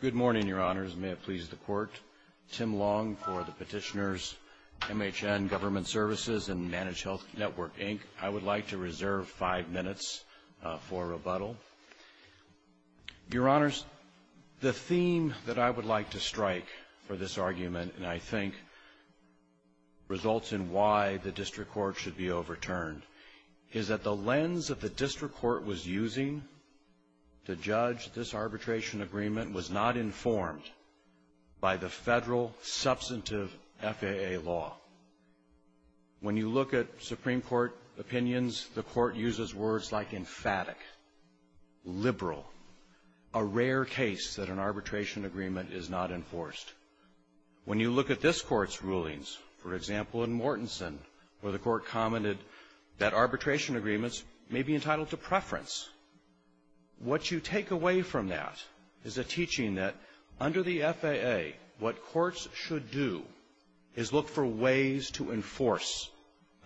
Good morning, Your Honors. May it please the Court. Tim Long for the petitioners, MHN Government Svcs and Managed Health Network, Inc. I would like to reserve five minutes for rebuttal. Your Honors, the theme that I would like to strike for this argument, and I think results in why the District Court should be overturned, is that the lens that I would like to strike for this argument is that the federal substantive FAA law. When you look at Supreme Court opinions, the Court uses words like emphatic, liberal, a rare case that an arbitration agreement is not enforced. When you look at this Court's rulings, for example, in Mortenson, where the Court commented that arbitration agreements may be entitled to preference, what you take away from that is a teaching that under the FAA, what courts should do is look for ways to enforce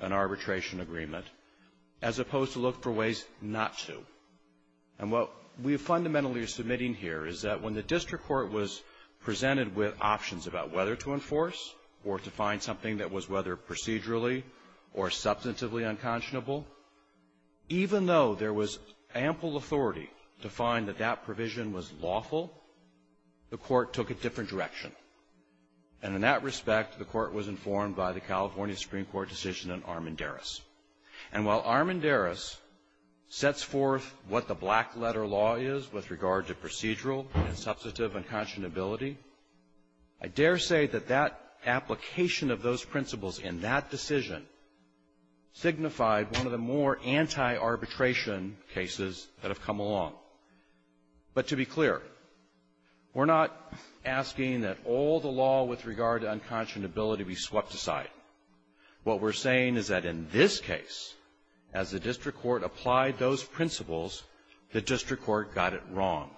an arbitration agreement, as opposed to look for ways not to. And what we fundamentally are submitting here is that when the District Court was presented with options about whether to enforce or to find something that was whether even though there was ample authority to find that that provision was lawful, the Court took a different direction. And in that respect, the Court was informed by the California Supreme Court decision in Armendaris. And while Armendaris sets forth what the black letter law is with regard to procedural and substantive unconscionability, I dare say that that application of those are the high arbitration cases that have come along. But to be clear, we're not asking that all the law with regard to unconscionability be swept aside. What we're saying is that in this case, as the District Court applied those principles, the District Court got it wrong.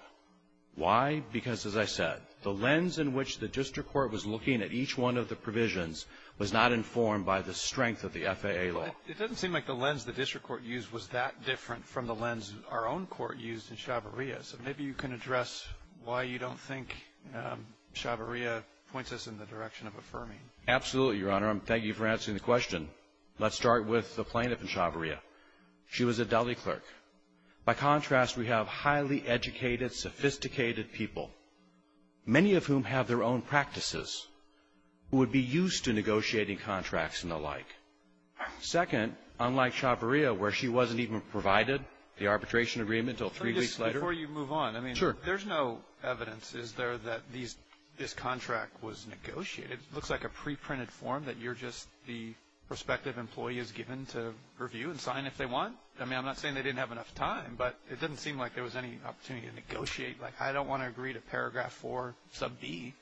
Why? Because, as I said, the lens in which the District Court was looking at each one of the provisions was not informed by the strength of the FAA law. Well, it doesn't seem like the lens the District Court used was that different from the lens our own Court used in Shavaria. So maybe you can address why you don't think Shavaria points us in the direction of affirming. Absolutely, Your Honor. Thank you for answering the question. Let's start with the plaintiff in Shavaria. She was a deli clerk. By contrast, we have highly educated, sophisticated people, many of whom have their own practices, who would be used to negotiating contracts and Second, unlike Shavaria, where she wasn't even provided the arbitration agreement until three weeks later. Before you move on, I mean, there's no evidence, is there, that this contract was negotiated? It looks like a preprinted form that you're just the prospective employee is given to review and sign if they want. I mean, I'm not saying they didn't have enough time, but it doesn't seem like there was any opportunity to negotiate. Like, I don't want to agree to paragraph 4, sub D.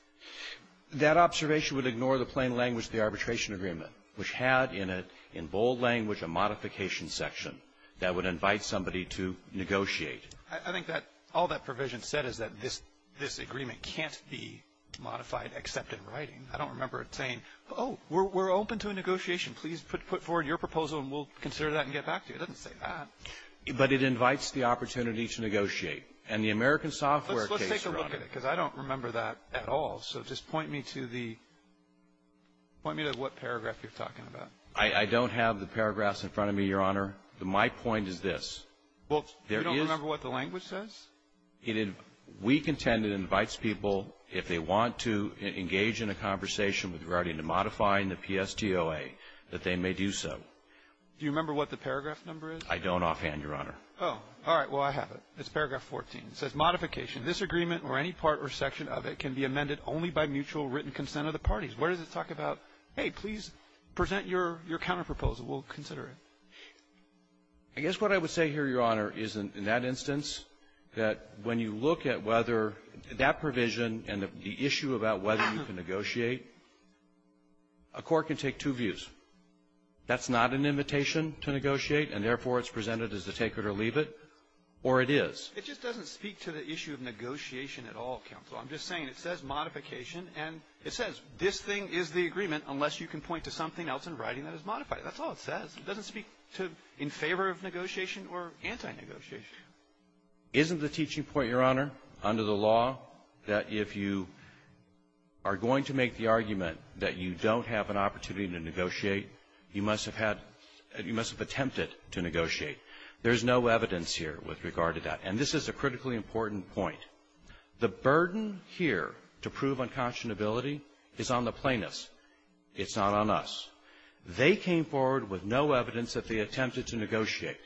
That observation would ignore the plain language of the arbitration agreement, which had in bold language a modification section that would invite somebody to negotiate. I think that all that provision said is that this agreement can't be modified except in writing. I don't remember it saying, oh, we're open to a negotiation. Please put forward your proposal, and we'll consider that and get back to you. It doesn't say that. But it invites the opportunity to negotiate. And the American Software case, Your Honor Let's take a look at it, because I don't remember that at all. So just point me to what paragraph you're talking about. I don't have the paragraphs in front of me, Your Honor. My point is this. Well, you don't remember what the language says? We contend it invites people, if they want to engage in a conversation regarding the modifying the PSTOA, that they may do so. Do you remember what the paragraph number is? I don't offhand, Your Honor. Oh. All right. Well, I have it. It's paragraph 14. It says, modification. This agreement or any part or section of it can be amended only by mutual written consent of the parties. Where does it talk about, hey, please present your counterproposal. We'll consider it. I guess what I would say here, Your Honor, is in that instance, that when you look at whether that provision and the issue about whether you can negotiate, a court can take two views. That's not an invitation to negotiate, and therefore, it's presented as to take it or leave it, or it is. It just doesn't speak to the issue of negotiation at all, counsel. I'm just saying it says modification, and it says this thing is the agreement unless you can point to something else in writing that is modified. That's all it says. It doesn't speak to in favor of negotiation or anti-negotiation. Isn't the teaching point, Your Honor, under the law, that if you are going to make the argument that you don't have an opportunity to negotiate, you must have had you must have attempted to negotiate. There's no evidence here with regard to that. And this is a critically important point. The burden here to prove unconscionability is on the plaintiffs. It's not on us. They came forward with no evidence that they attempted to negotiate.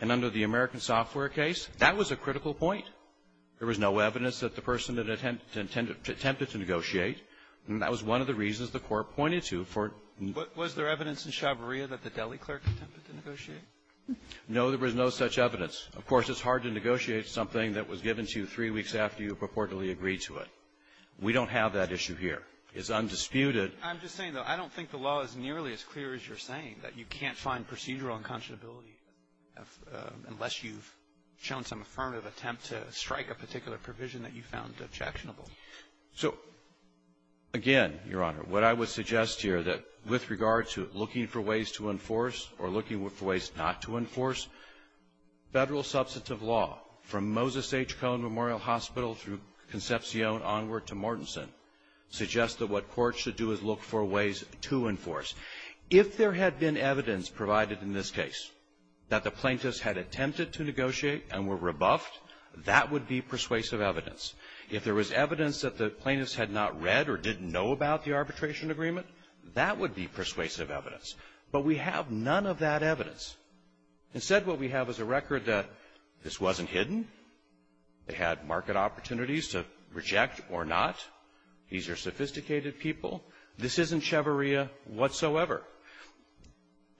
And under the American Software case, that was a critical point. There was no evidence that the person had attempted to negotiate. And that was one of the reasons the Court pointed to for the ---- Roberts. Was there evidence in Chabria that the deli clerk attempted to negotiate? Gannon. No, there was no such evidence. Of course, it's hard to negotiate something that was given to you three weeks after you purportedly agreed to it. We don't have that issue here. It's undisputed. I'm just saying, though, I don't think the law is nearly as clear as you're saying, that you can't find procedural unconscionability unless you've shown some affirmative attempt to strike a particular provision that you found objectionable. So, again, Your Honor, what I would suggest here, that with regard to looking for ways to enforce or looking for ways not to enforce, Federal substantive law from Moses H. Cone Memorial Hospital through Concepcion onward to Mortenson suggests that what courts should do is look for ways to enforce. If there had been evidence provided in this case that the plaintiffs had attempted to negotiate and were rebuffed, that would be persuasive evidence. If there was evidence that the plaintiffs had not read or didn't know about the arbitration agreement, that would be persuasive evidence. But we have none of that evidence. Instead, what we have is a record that this wasn't hidden. They had market opportunities to reject or not. These are sophisticated people. This isn't cheveree whatsoever.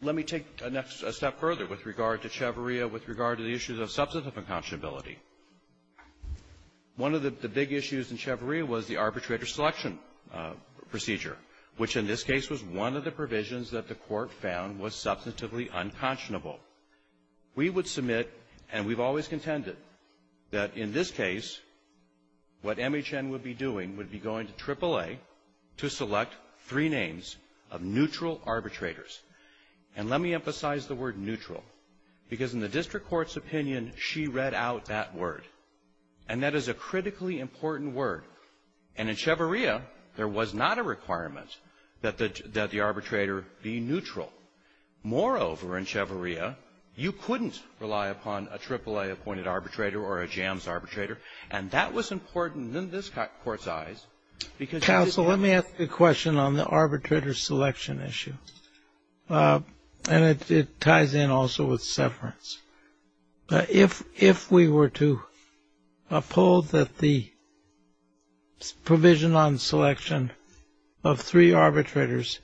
Let me take a next step further with regard to cheveree with regard to the issues of substantive unconscionability. One of the big issues in cheveree was the arbitrator selection procedure, which in this case was one of the provisions that the court found was substantively unconscionable. We would submit, and we've always contended, that in this case, what MHN would be doing would be going to AAA to select three names of neutral arbitrators. And let me emphasize the word neutral, because in the district court's opinion, she read out that word. And that is a critically important word. And in cheveree, there was not a requirement that the arbitrator be neutral. Moreover, in cheveree, you couldn't rely upon a AAA-appointed arbitrator or a jams arbitrator, and that was important in this court's eyes, because you did have to Counsel, let me ask a question on the arbitrator selection issue. And it ties in also with severance. If we were to uphold that the provision on selection of three arbitrators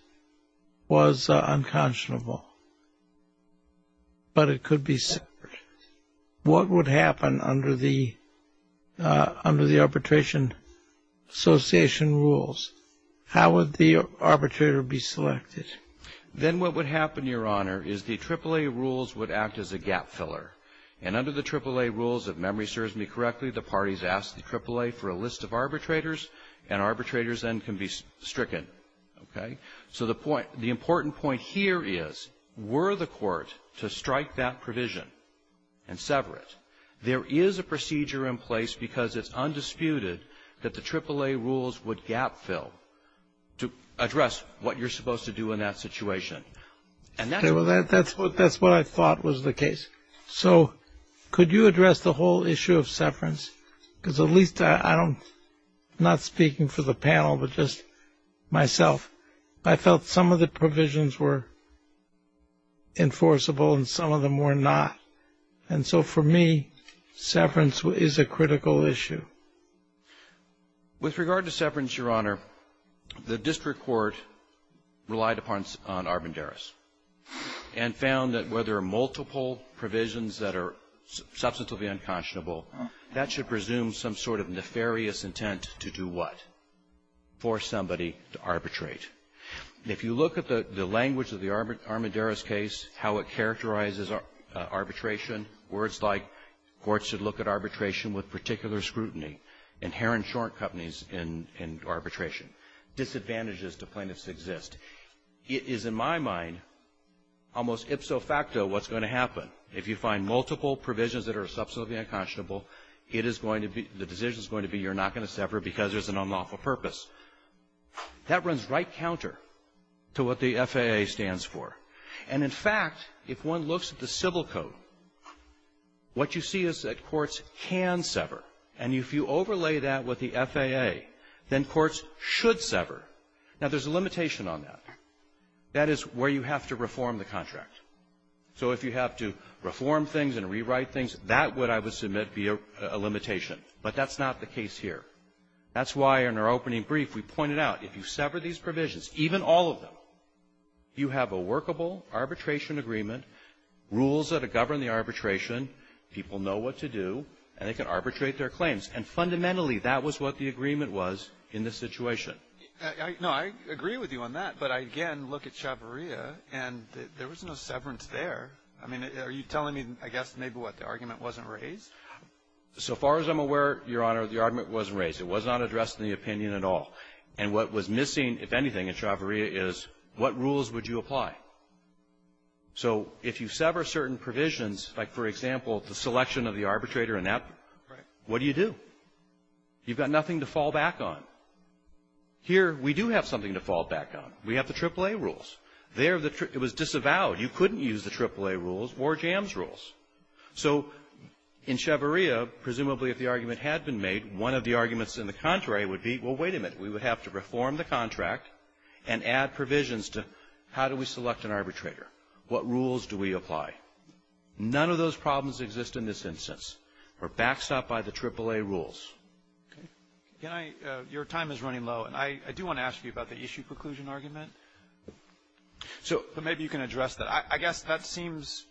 was unconscionable, but it could be severed, what would happen under the Arbitration Association rules? How would the arbitrator be selected? Then what would happen, Your Honor, is the AAA rules would act as a gap filler. And under the AAA rules, if memory serves me correctly, the parties ask the AAA for a list of arbitrators, and arbitrators then can be stricken. Okay? So the point the important point here is, were the court to strike that provision and sever it, there is a procedure in place because it's undisputed that the AAA rules would gap fill to address what you're supposed to do in that situation. And that's what I thought was the case. So could you address the whole issue of severance? Because at least I don't, not speaking for the panel, but just myself, I felt some of the provisions were enforceable and some of them were not. And so for me, severance is a critical issue. With regard to severance, Your Honor, the district court relied upon Armendariz and found that where there are multiple provisions that are substantively unconscionable, that should presume some sort of nefarious intent to do what? Force somebody to arbitrate. If you look at the language of the Armendariz case, how it characterizes arbitration, words like courts should look at arbitration with particular scrutiny. Inherent shortcomings in arbitration. Disadvantages to plaintiffs exist. It is in my mind, almost ipso facto what's going to happen. If you find multiple provisions that are substantively unconscionable, it is going to be, the decision is going to be you're not going to sever because there's an unlawful purpose. That runs right counter to what the FAA stands for. And in fact, if one looks at the civil code, what you see is that courts can sever. And if you overlay that with the FAA, then courts should sever. Now, there's a limitation on that. That is where you have to reform the contract. So if you have to reform things and rewrite things, that would, I would submit, be a limitation. But that's not the case here. That's why in our opening brief, we pointed out if you sever these provisions, even all of them, you have a workable arbitration agreement, rules that govern the arbitration, people know what to do, and they can arbitrate their claims. And fundamentally, that was what the agreement was in this situation. No, I agree with you on that. But I, again, look at Chavarria, and there was no severance there. I mean, are you telling me, I guess, maybe what, the argument wasn't raised? So far as I'm aware, Your Honor, the argument wasn't raised. It was not addressed in the opinion at all. And what was missing, if anything, in Chavarria is, what rules would you apply? So if you sever certain provisions, like, for example, the selection of the arbitrator and that, what do you do? You've got nothing to fall back on. Here, we do have something to fall back on. We have the AAA rules. There, it was disavowed. You couldn't use the AAA rules or JAMS rules. So in Chavarria, presumably if the argument had been made, one of the arguments in the contrary would be, well, wait a minute, we would have to reform the contract and add provisions to, how do we select an arbitrator? What rules do we apply? None of those problems exist in this instance. We're backstopped by the AAA rules. Can I, your time is running low, and I do want to ask you about the issue preclusion argument. So, but maybe you can address that. I guess that seems,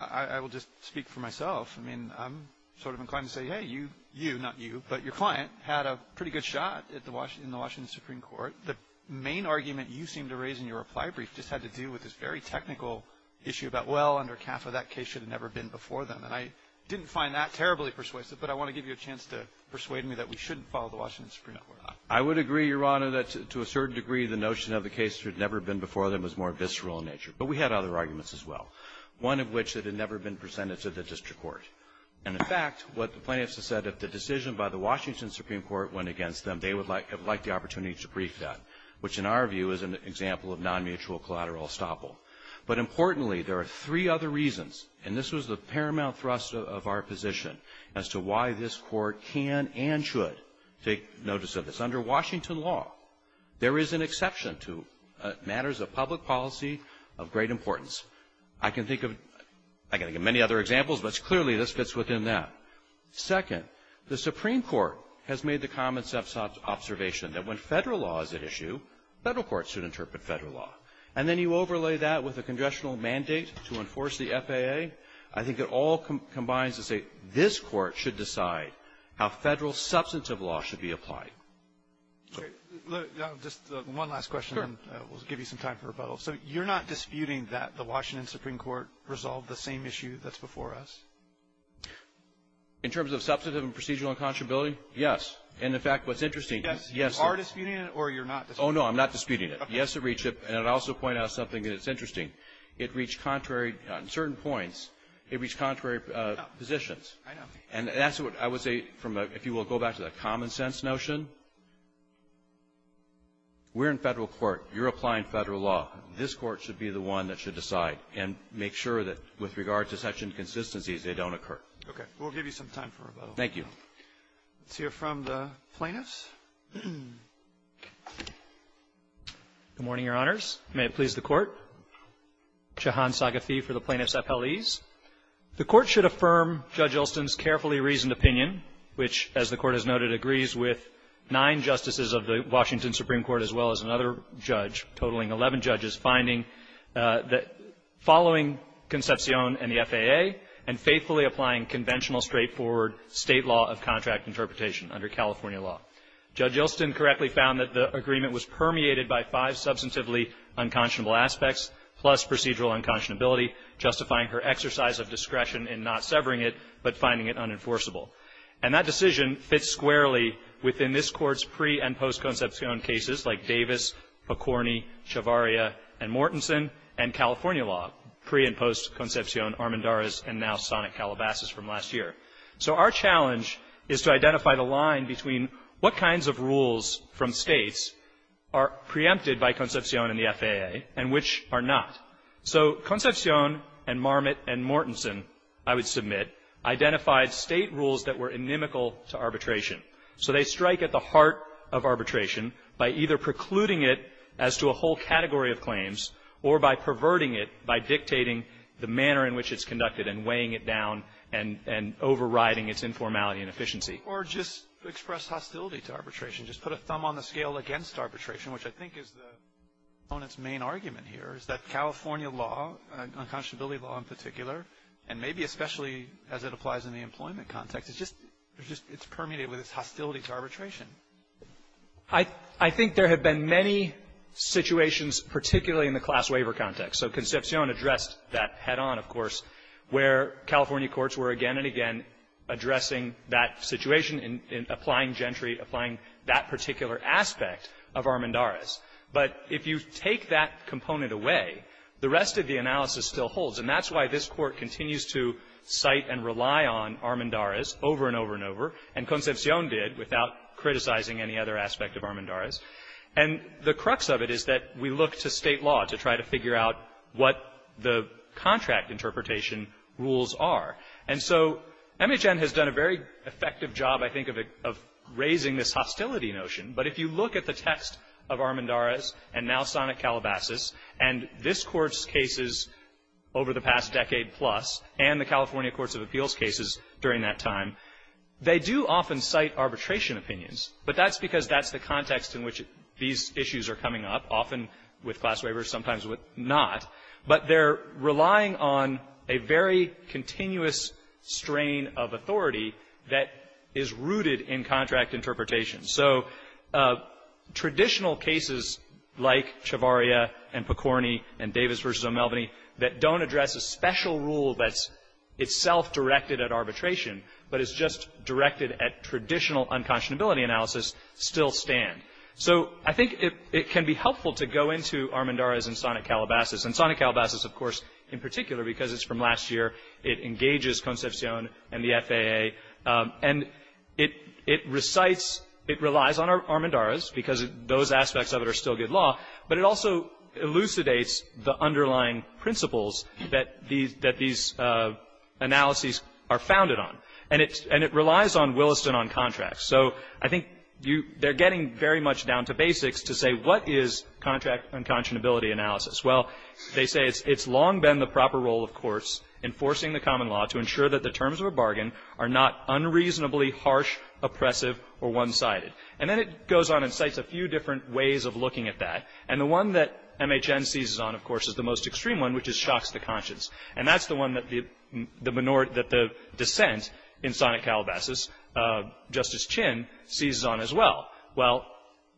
I will just speak for myself. I mean, I'm sort of inclined to say, hey, you, not you, but your client had a pretty good shot in the Washington Supreme Court. The main argument you seem to raise in your reply brief just had to do with this very technical issue about, well, under CAFA that case should have never been before them. And I didn't find that terribly persuasive, but I want to give you a chance to persuade me that we shouldn't follow the Washington Supreme Court. I would agree, your Honor, that to a certain degree, the notion of the case should have never been before them was more visceral in nature. But we had other arguments as well. One of which that had never been presented to the district court. And in fact, what the plaintiffs have said, if the decision by the Washington Supreme Court went against them, they would like the opportunity to brief that, which in our view is an example of non-mutual collateral estoppel. But importantly, there are three other reasons, and this was the paramount thrust of our position as to why this court can and should take notice of this. Under Washington law, there is an exception to matters of public policy of great importance. I can think of, I can think of many other examples, but clearly this fits within that. Second, the Supreme Court has made the common sense observation that when federal law is at issue, federal courts should interpret federal law. And then you overlay that with a congressional mandate to enforce the FAA, I think it all combines to say this court should decide how federal substantive law should be applied. Just one last question, and we'll give you some time for rebuttal. So you're not disputing that the Washington Supreme Court resolved the same issue that's before us? In terms of substantive and procedural incontrovertibility, yes. And in fact, what's interesting is yes. You are disputing it, or you're not disputing it? Oh, no, I'm not disputing it. Yes, it reached it, and I'd also point out something that's interesting. It reached contrary, in certain points, it reached contrary positions. I know. And that's what I would say from a, if you will, go back to the common sense notion. We're in federal court. You're applying federal law. This court should be the one that should decide and make sure that with regard to such inconsistencies, they don't occur. Okay. We'll give you some time for rebuttal. Thank you. Let's hear from the plaintiffs. Good morning, Your Honors. May it please the Court. Shahan Saghafi for the plaintiffs' appellees. The Court should affirm Judge Ilston's carefully reasoned opinion, which, as the Court has noted, agrees with nine justices of the Washington Supreme Court, as well as another judge, totaling 11 judges, finding that following Concepcion and the FAA and faithfully applying conventional, straightforward state law of contract interpretation under California law. Judge Ilston correctly found that the agreement was permeated by five substantively unconscionable aspects, plus procedural unconscionability, justifying her exercise of discretion in not severing it, but finding it unenforceable. And that decision fits squarely within this Court's pre- and post-Concepcion cases, like Davis, McCorny, Chavarria, and Mortenson, and California law, pre- and post-Concepcion, Armendariz, and now Sonic-Calabasas from last year. So our challenge is to identify the line between what kinds of rules from states are preempted by Concepcion and the FAA, and which are not. So Concepcion and Marmot and Mortenson, I would submit, identified state rules that were inimical to arbitration. So they strike at the heart of arbitration by either precluding it as to a whole category of claims, or by perverting it by dictating the manner in which it's conducted and weighing it down and overriding its informality and efficiency. Alito, or just express hostility to arbitration. Just put a thumb on the scale against arbitration, which I think is the Constituent's main argument here, is that California law, unconscionability law in particular, and maybe especially as it applies in the employment context, it's just, it's permeated with this hostility to arbitration. I think there have been many situations, particularly in the class waiver context. So Concepcion addressed that head-on, of course, where California courts were again and again addressing that situation in applying gentry, applying that particular aspect of Armendariz. But if you take that component away, the rest of the analysis still holds. And that's why this Court continues to cite and rely on Armendariz over and over and over, and Concepcion did without criticizing any other aspect of Armendariz. And the crux of it is that we look to State law to try to figure out what the contract interpretation rules are. And so MHN has done a very effective job, I think, of raising this hostility notion. But if you look at the text of Armendariz and now Sonic-Calabasas, and this Court's cases over the past decade-plus, and the California courts of appeals cases during that time, they do often cite arbitration opinions. But that's because that's the context in which these issues are coming up, often with class waivers, sometimes with not. But they're relying on a very continuous strain of authority that is rooted in contract interpretation. So traditional cases like Chavarria and Picorni and Davis versus O'Melveny that don't address a special rule that's itself directed at arbitration, but is just directed at traditional unconscionability analysis, still stand. So I think it can be helpful to go into Armendariz and Sonic-Calabasas. And Sonic-Calabasas, of course, in particular, because it's from last year, it engages Concepcion and the FAA. And it recites, it relies on Armendariz because those aspects of it are still good law, but it also elucidates the underlying principles that these analyses are founded on. And it relies on Williston on contracts. So I think they're getting very much down to basics to say, what is contract unconscionability analysis? Well, they say, it's long been the proper role of courts enforcing the common law to ensure that the terms of a bargain are not unreasonably harsh, oppressive, or one-sided. And then it goes on and cites a few different ways of looking at that. And the one that MHN seizes on, of course, is the most extreme one, which is shocks to conscience. And that's the one that the descent in Sonic-Calabasas, Justice Chin, seizes on as well. Well,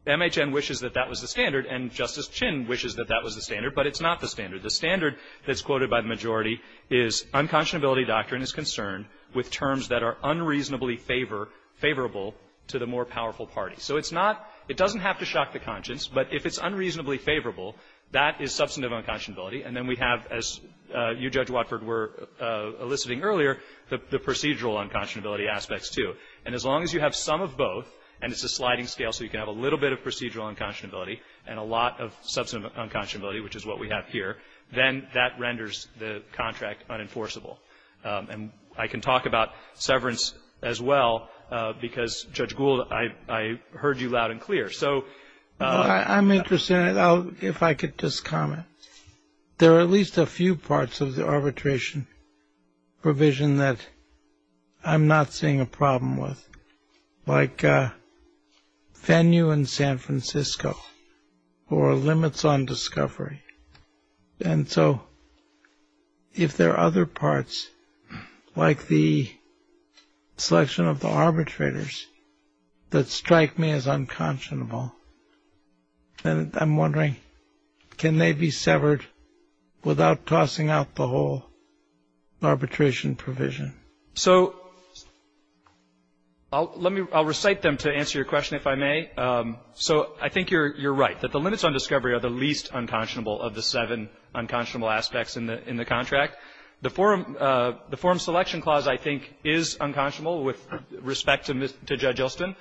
MHN wishes that that was the standard, and Justice Chin wishes that that was the standard, but it's not the standard. The standard that's quoted by the majority is, unconscionability doctrine is concerned with terms that are unreasonably favorable to the more powerful party. So it's not, it doesn't have to shock the conscience, but if it's unreasonably favorable, that is substantive unconscionability. And then we have, as you, Judge Watford, were eliciting earlier, the procedural unconscionability aspects, too. And as long as you have some of both, and it's a sliding scale, so you can have a little bit of procedural unconscionability and a lot of substantive unconscionability, which is what we have here, then that renders the contract unenforceable. And I can talk about severance as well, because, Judge Gould, I heard you loud and clear. So... Well, I'm interested in it. If I could just comment. There are at least a few parts of the arbitration provision that I'm not seeing a problem with, like Fenyu in San Francisco, or limits on discovery. And so, if there are other parts, like the selection of the arbitrators, that strike me as unconscionable, then I'm wondering, can they be severed without tossing out the whole arbitration provision? So, I'll recite them to answer your question, if I may. So, I think you're right, that the limits on discovery are the least unconscionable of the seven unconscionable aspects in the contract. The forum selection clause, I think, is unconscionable with respect to Judge Elston,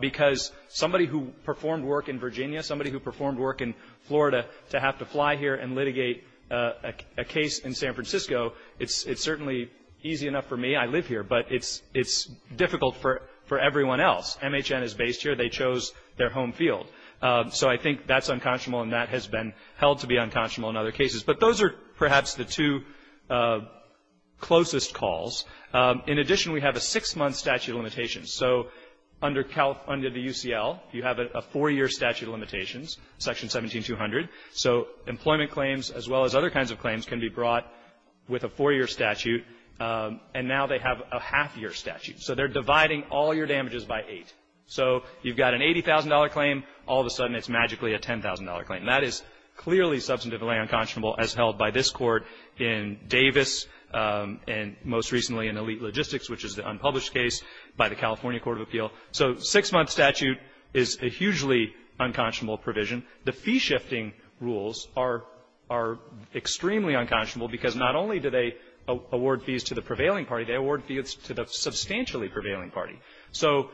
because somebody who performed work in Virginia, somebody who performed work in Florida, to have to fly here and litigate a case in San Francisco, it's certainly easy enough for me. I live here, but it's difficult for everyone else. MHN is based here. They chose their home field. So, I think that's unconscionable, and that has been held to be unconscionable in other cases. But those are perhaps the two closest calls. In addition, we have a six-month statute of limitations. So, under the UCL, you have a four-year statute of limitations, Section 17200. So, employment claims, as well as other kinds of claims, can be brought with a four-year statute, and now they have a half-year statute. So, they're dividing all your damages by eight. So, you've got an $80,000 claim. All of a sudden, it's magically a $10,000 claim. That is clearly substantively unconscionable, as held by this Court in Davis, and most recently in Elite Logistics, which is the unpublished case by the California Court of Appeal. So, six-month statute is a hugely unconscionable provision. The fee-shifting rules are extremely unconscionable, because not only do they award fees to the prevailing party, they award fees to the substantially prevailing party. So,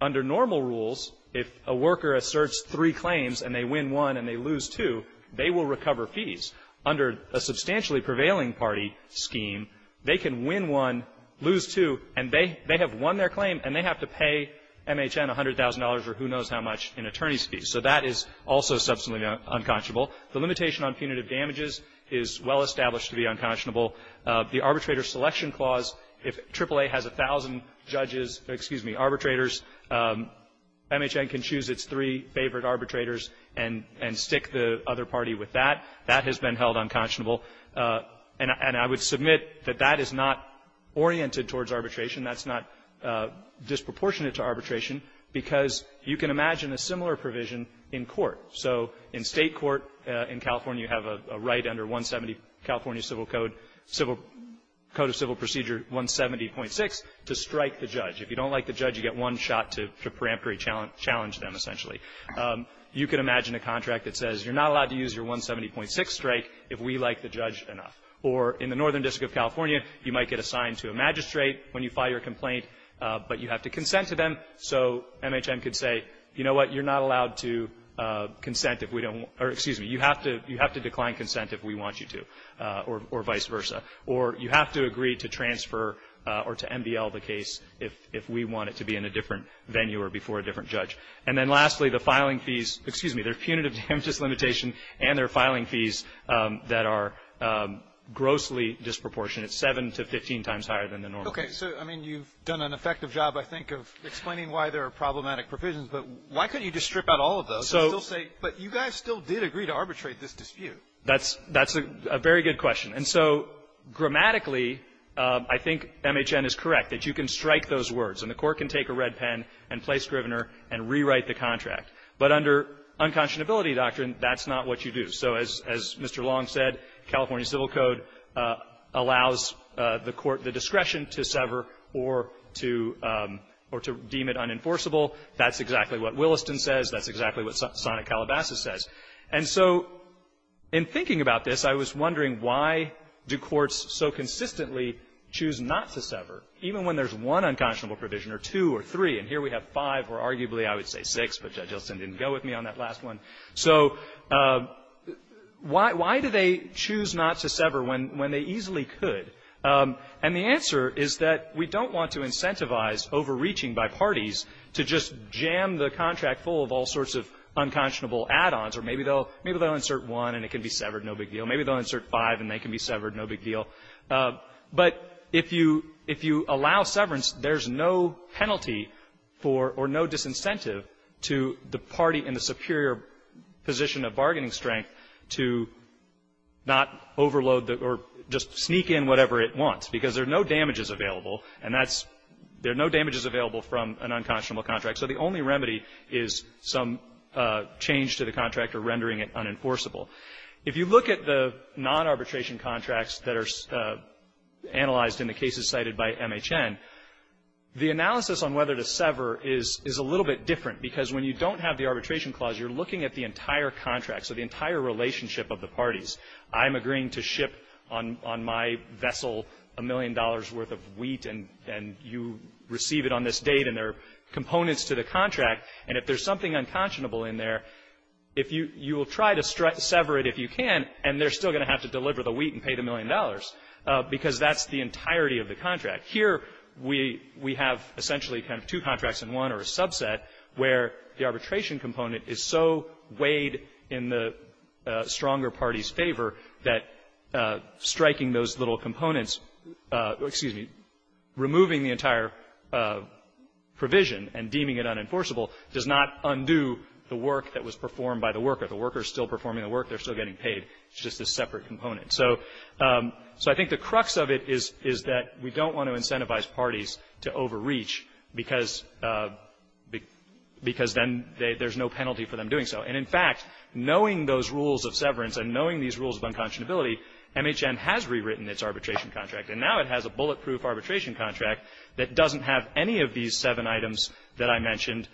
under normal rules, if a worker asserts three claims, and they win one and they lose two, they will recover fees. Under a substantially prevailing party scheme, they can win one, lose two, and they have won their claim, and they have to pay MHN $100,000 or who knows how much in attorneys' fees. So, that is also substantively unconscionable. The limitation on punitive damages is well established to be unconscionable. The Arbitrator Selection Clause, if AAA has 1,000 judges, excuse me, arbitrators, MHN can choose its three favorite arbitrators and stick the other party with that. That has been held unconscionable. And I would submit that that is not oriented towards arbitration. That's not disproportionate to arbitration, because you can imagine a similar provision in court. So, in state court in California, you have a right under 170, California Civil Code, Civil Code of Civil Procedure 170.6, to strike the judge. If you don't like the judge, you get one shot to preemptory challenge them, essentially. You can imagine a contract that says, you're not allowed to use your 170.6 strike if we like the judge enough. Or in the Northern District of California, you might get assigned to a magistrate when you file your complaint, but you have to consent to them. So MHN could say, you know what, you're not allowed to consent if we don't want to, or excuse me, you have to decline consent if we want you to, or vice versa. Or you have to agree to transfer or to MBL the case if we want it to be in a different venue or before a different judge. And then lastly, the filing fees, excuse me, there's punitive damages limitation and there are filing fees that are grossly disproportionate, 7 to 15 times higher than the normal. Okay. So, I mean, you've done an effective job, I think, of explaining why there are problematic provisions, but why couldn't you just strip out all of those and still say, but you guys still did agree to arbitrate this dispute. That's a very good question. And so grammatically, I think MHN is correct, that you can strike those words. And the Court can take a red pen and place Grivener and rewrite the contract. But under unconscionability doctrine, that's not what you do. So as Mr. Long said, California Civil Code allows the court the discretion to sever or to deem it unenforceable. That's exactly what Williston says. That's exactly what Sonic Calabasas says. And so in thinking about this, I was wondering why do courts so consistently choose not to sever, even when there's one unconscionable provision or two or three. And here we have five, or arguably I would say six, but Judge Elston didn't go with me on that last one. So why do they choose not to sever when they easily could? And the answer is that we don't want to incentivize overreaching by parties to just jam the contract full of all sorts of unconscionable add-ons, or maybe they'll insert one and it can be severed, no big deal. Maybe they'll insert five and they can be severed, no big deal. But if you allow severance, there's no penalty for or no disincentive to the party in the superior position of bargaining strength to not overload or just sneak in whatever it wants, because there are no damages available, and there are no damages available from an unconscionable contract. So the only remedy is some change to the contract or rendering it unenforceable. If you look at the non-arbitration contracts that are analyzed in the cases cited by MHN, the analysis on whether to sever is a little bit different, because when you don't have the arbitration clause, you're looking at the entire contract, so the entire relationship of the parties. I'm agreeing to ship on my vessel a million dollars' worth of wheat, and you receive it on this date, and there are components to the contract. And if there's something unconscionable in there, you will try to sever it if you can, and they're still going to have to deliver the wheat and pay the million dollars, because that's the entirety of the contract. Here, we have essentially kind of two contracts in one, or a subset, where the arbitration component is so weighed in the stronger party's favor that striking those little components, excuse me, removing the entire provision and deeming it unenforceable does not undo the work that was performed by the worker. The worker is still performing the work. They're still getting paid. It's just a separate component. So I think the crux of it is that we don't want to incentivize parties to overreach, because then there's no penalty for them doing so. And in fact, knowing those rules of severance and knowing these rules of unconscionability, MHN has rewritten its arbitration contract, and now it has a bulletproof arbitration contract that doesn't have any of these seven items that I mentioned.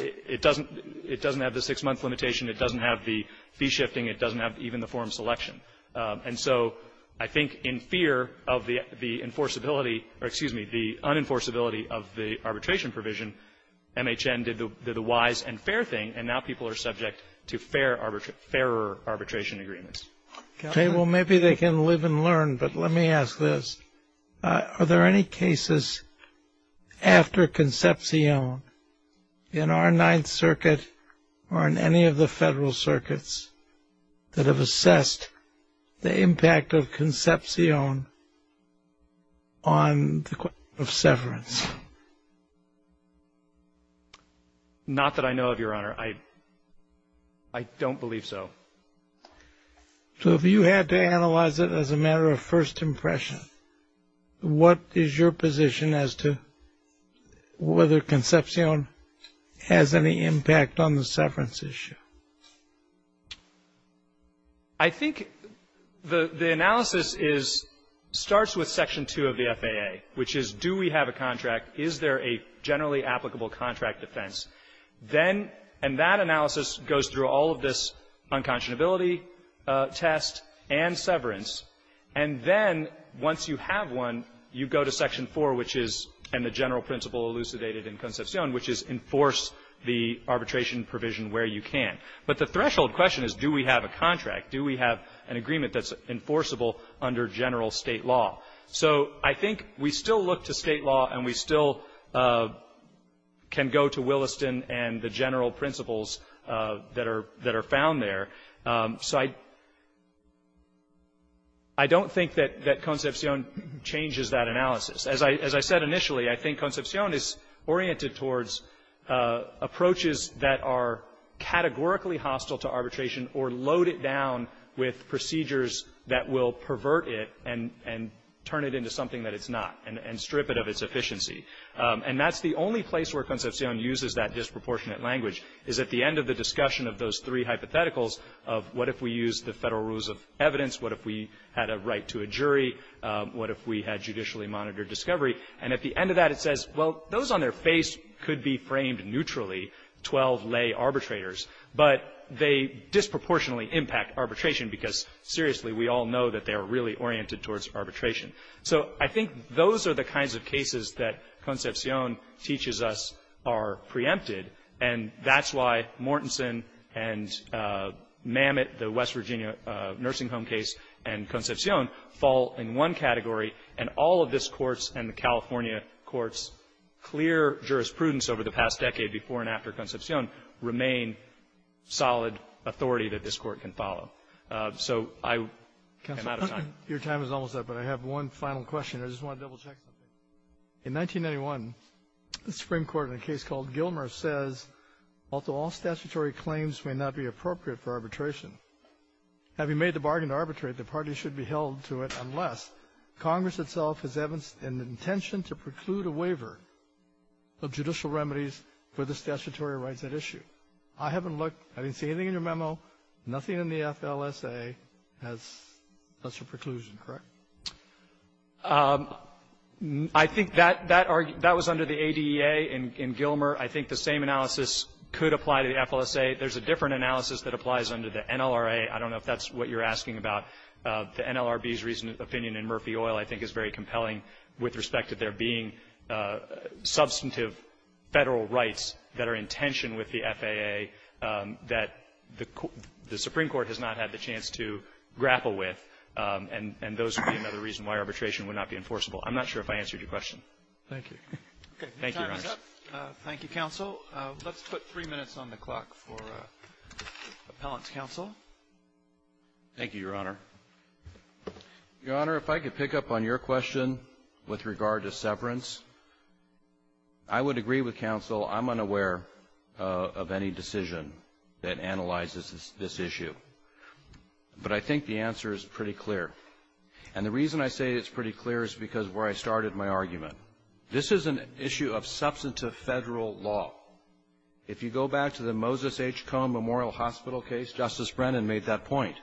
It doesn't have the six-month limitation. It doesn't have the fee shifting. It doesn't have even the form selection. And so I think in fear of the enforceability, or excuse me, the unenforceability of the arbitration provision, MHN did the wise and fair thing, and now people are subject to fairer arbitration agreements. Okay. Well, maybe they can live and learn, but let me ask this. Are there any cases after Concepcion in our Ninth Circuit or in any of the Federal Circuits that have assessed the impact of Concepcion on the question of severance? Not that I know of, Your Honor. I don't believe so. So if you had to analyze it as a matter of first impression, what is your position as to whether Concepcion has any impact on the severance issue? I think the analysis is, starts with Section 2 of the FAA, which is, do we have a contract? Is there a generally applicable contract defense? Then, and that analysis goes through all of this unconscionability test and severance. And then, once you have one, you go to Section 4, which is, and the general principle elucidated in Concepcion, which is enforce the arbitration provision where you can. But the threshold question is, do we have a contract? Do we have an agreement that's enforceable under general State law? So I think we still look to State law, and we still can go to Williston and the general principles that are found there. So I don't think that Concepcion changes that analysis. As I said initially, I think Concepcion is oriented towards approaches that are categorically hostile to arbitration or load it down with procedures that will pervert it and turn it into something that it's not, and strip it of its efficiency. And that's the only place where Concepcion uses that disproportionate language, is at the end of the discussion of those three hypotheticals of what if we use the federal rules of evidence? What if we had a right to a jury? What if we had judicially monitored discovery? And at the end of that, it says, well, those on their face could be framed neutrally, 12 lay arbitrators, but they disproportionately impact arbitration because, seriously, we all know that they are really oriented towards arbitration. So I think those are the kinds of cases that Concepcion teaches us are preempted, and that's why Mortenson and Mamet, the West Virginia nursing home case, and Concepcion fall in one category, and all of this Court's and the California Court's clear jurisprudence over the past decade before and after Concepcion remain solid authority that this Court can follow. So I am out of time. Kennedy. Your time is almost up, but I have one final question. I just want to double-check something. In 1991, the Supreme Court in a case called Gilmer says, although all statutory claims may not be appropriate for arbitration, having made the bargain to arbitrate, the parties should be held to it unless Congress itself has an intention to preclude a waiver of judicial remedies for the statutory rights at issue. I haven't looked. I didn't see anything in your memo, nothing in the FLSA has such a preclusion, correct? I think that was under the ADEA in Gilmer. I think the same analysis could apply to the FLSA. There's a different analysis that applies under the NLRA. I don't know if that's what you're asking about. The NLRB's recent opinion in Murphy Oil, I think, is very compelling with respect to there being substantive Federal rights that are in tension with the FAA that the reason why arbitration would not be enforceable. I'm not sure if I answered your question. Thank you. Thank you, Your Honor. Thank you, counsel. Let's put three minutes on the clock for appellant's counsel. Thank you, Your Honor. Your Honor, if I could pick up on your question with regard to severance, I would agree with counsel. I'm unaware of any decision that analyzes this issue. But I think the answer is pretty clear. And the reason I say it's pretty clear is because of where I started my argument. This is an issue of substantive Federal law. If you go back to the Moses H. Cone Memorial Hospital case, Justice Brennan made that point.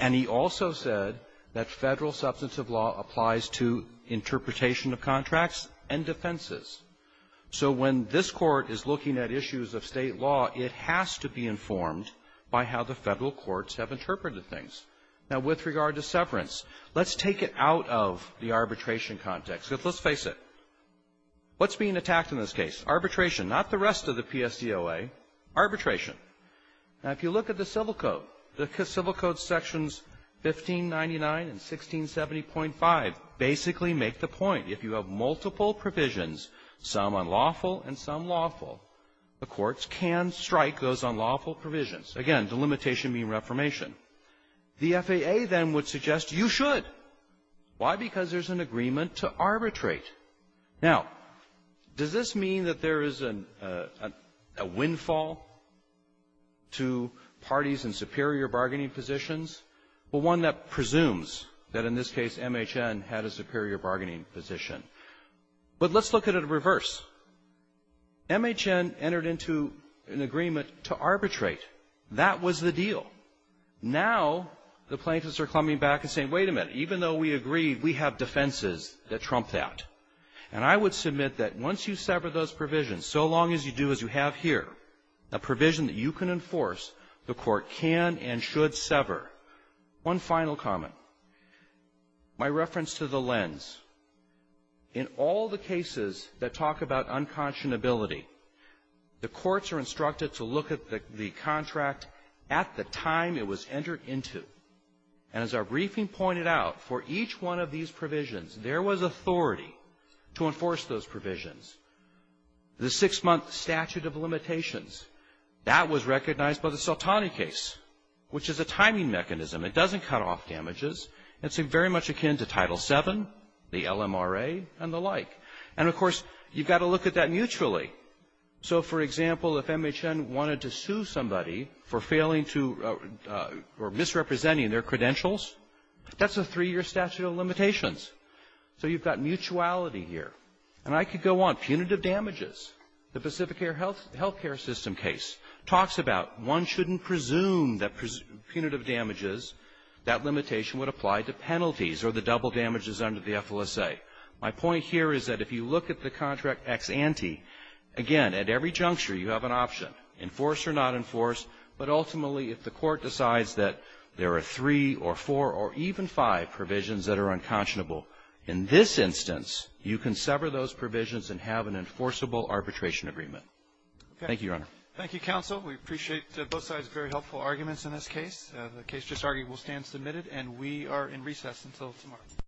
And he also said that Federal substantive law applies to interpretation of contracts and defenses. So when this Court is looking at issues of State law, it has to be informed by how the Federal courts have interpreted things. Now, with regard to severance, let's take it out of the arbitration context. Let's face it. What's being attacked in this case? Arbitration. Not the rest of the PSDOA. Arbitration. Now, if you look at the Civil Code, the Civil Code sections 1599 and 1670.5 basically make the point, if you have multiple provisions, some unlawful and some lawful, the courts can strike those unlawful provisions. Again, delimitation being reformation. The FAA, then, would suggest you should. Why? Because there's an agreement to arbitrate. Now, does this mean that there is a windfall to parties in superior bargaining positions, or one that presumes that, in this case, MHN had a superior bargaining position? But let's look at it in reverse. MHN entered into an agreement to arbitrate. That was the deal. Now, the plaintiffs are coming back and saying, wait a minute, even though we agree, we have defenses that trump that. And I would submit that once you sever those provisions, so long as you do as you have here, a provision that you can enforce, the court can and should sever. One final comment. My reference to the lens. In all the cases that talk about unconscionability, the courts are instructed to look at the contract at the time it was entered into. And as our briefing pointed out, for each one of these provisions, there was authority to enforce those provisions. The six-month statute of limitations, that was recognized by the Soltani case, which is a timing mechanism. It doesn't cut off damages. It's very much akin to Title VII, the LMRA, and the like. And, of course, you've got to look at that mutually. So, for example, if MHN wanted to sue somebody for failing to or misrepresenting their credentials, that's a three-year statute of limitations. So you've got mutuality here. And I could go on. Punitive damages. The Pacific Health Care System case talks about one shouldn't presume that punitive damages, that limitation would apply to penalties or the double damages under the FLSA. My point here is that if you look at the contract ex ante, again, at every juncture, you have an option, enforce or not enforce. But ultimately, if the court decides that there are three or four or even five provisions that are unconscionable, in this instance, you can sever those provisions and have an enforceable arbitration agreement. Thank you, Your Honor. Thank you, counsel. We appreciate both sides' very helpful arguments in this case. The case just argued will stand submitted. And we are in recess until tomorrow.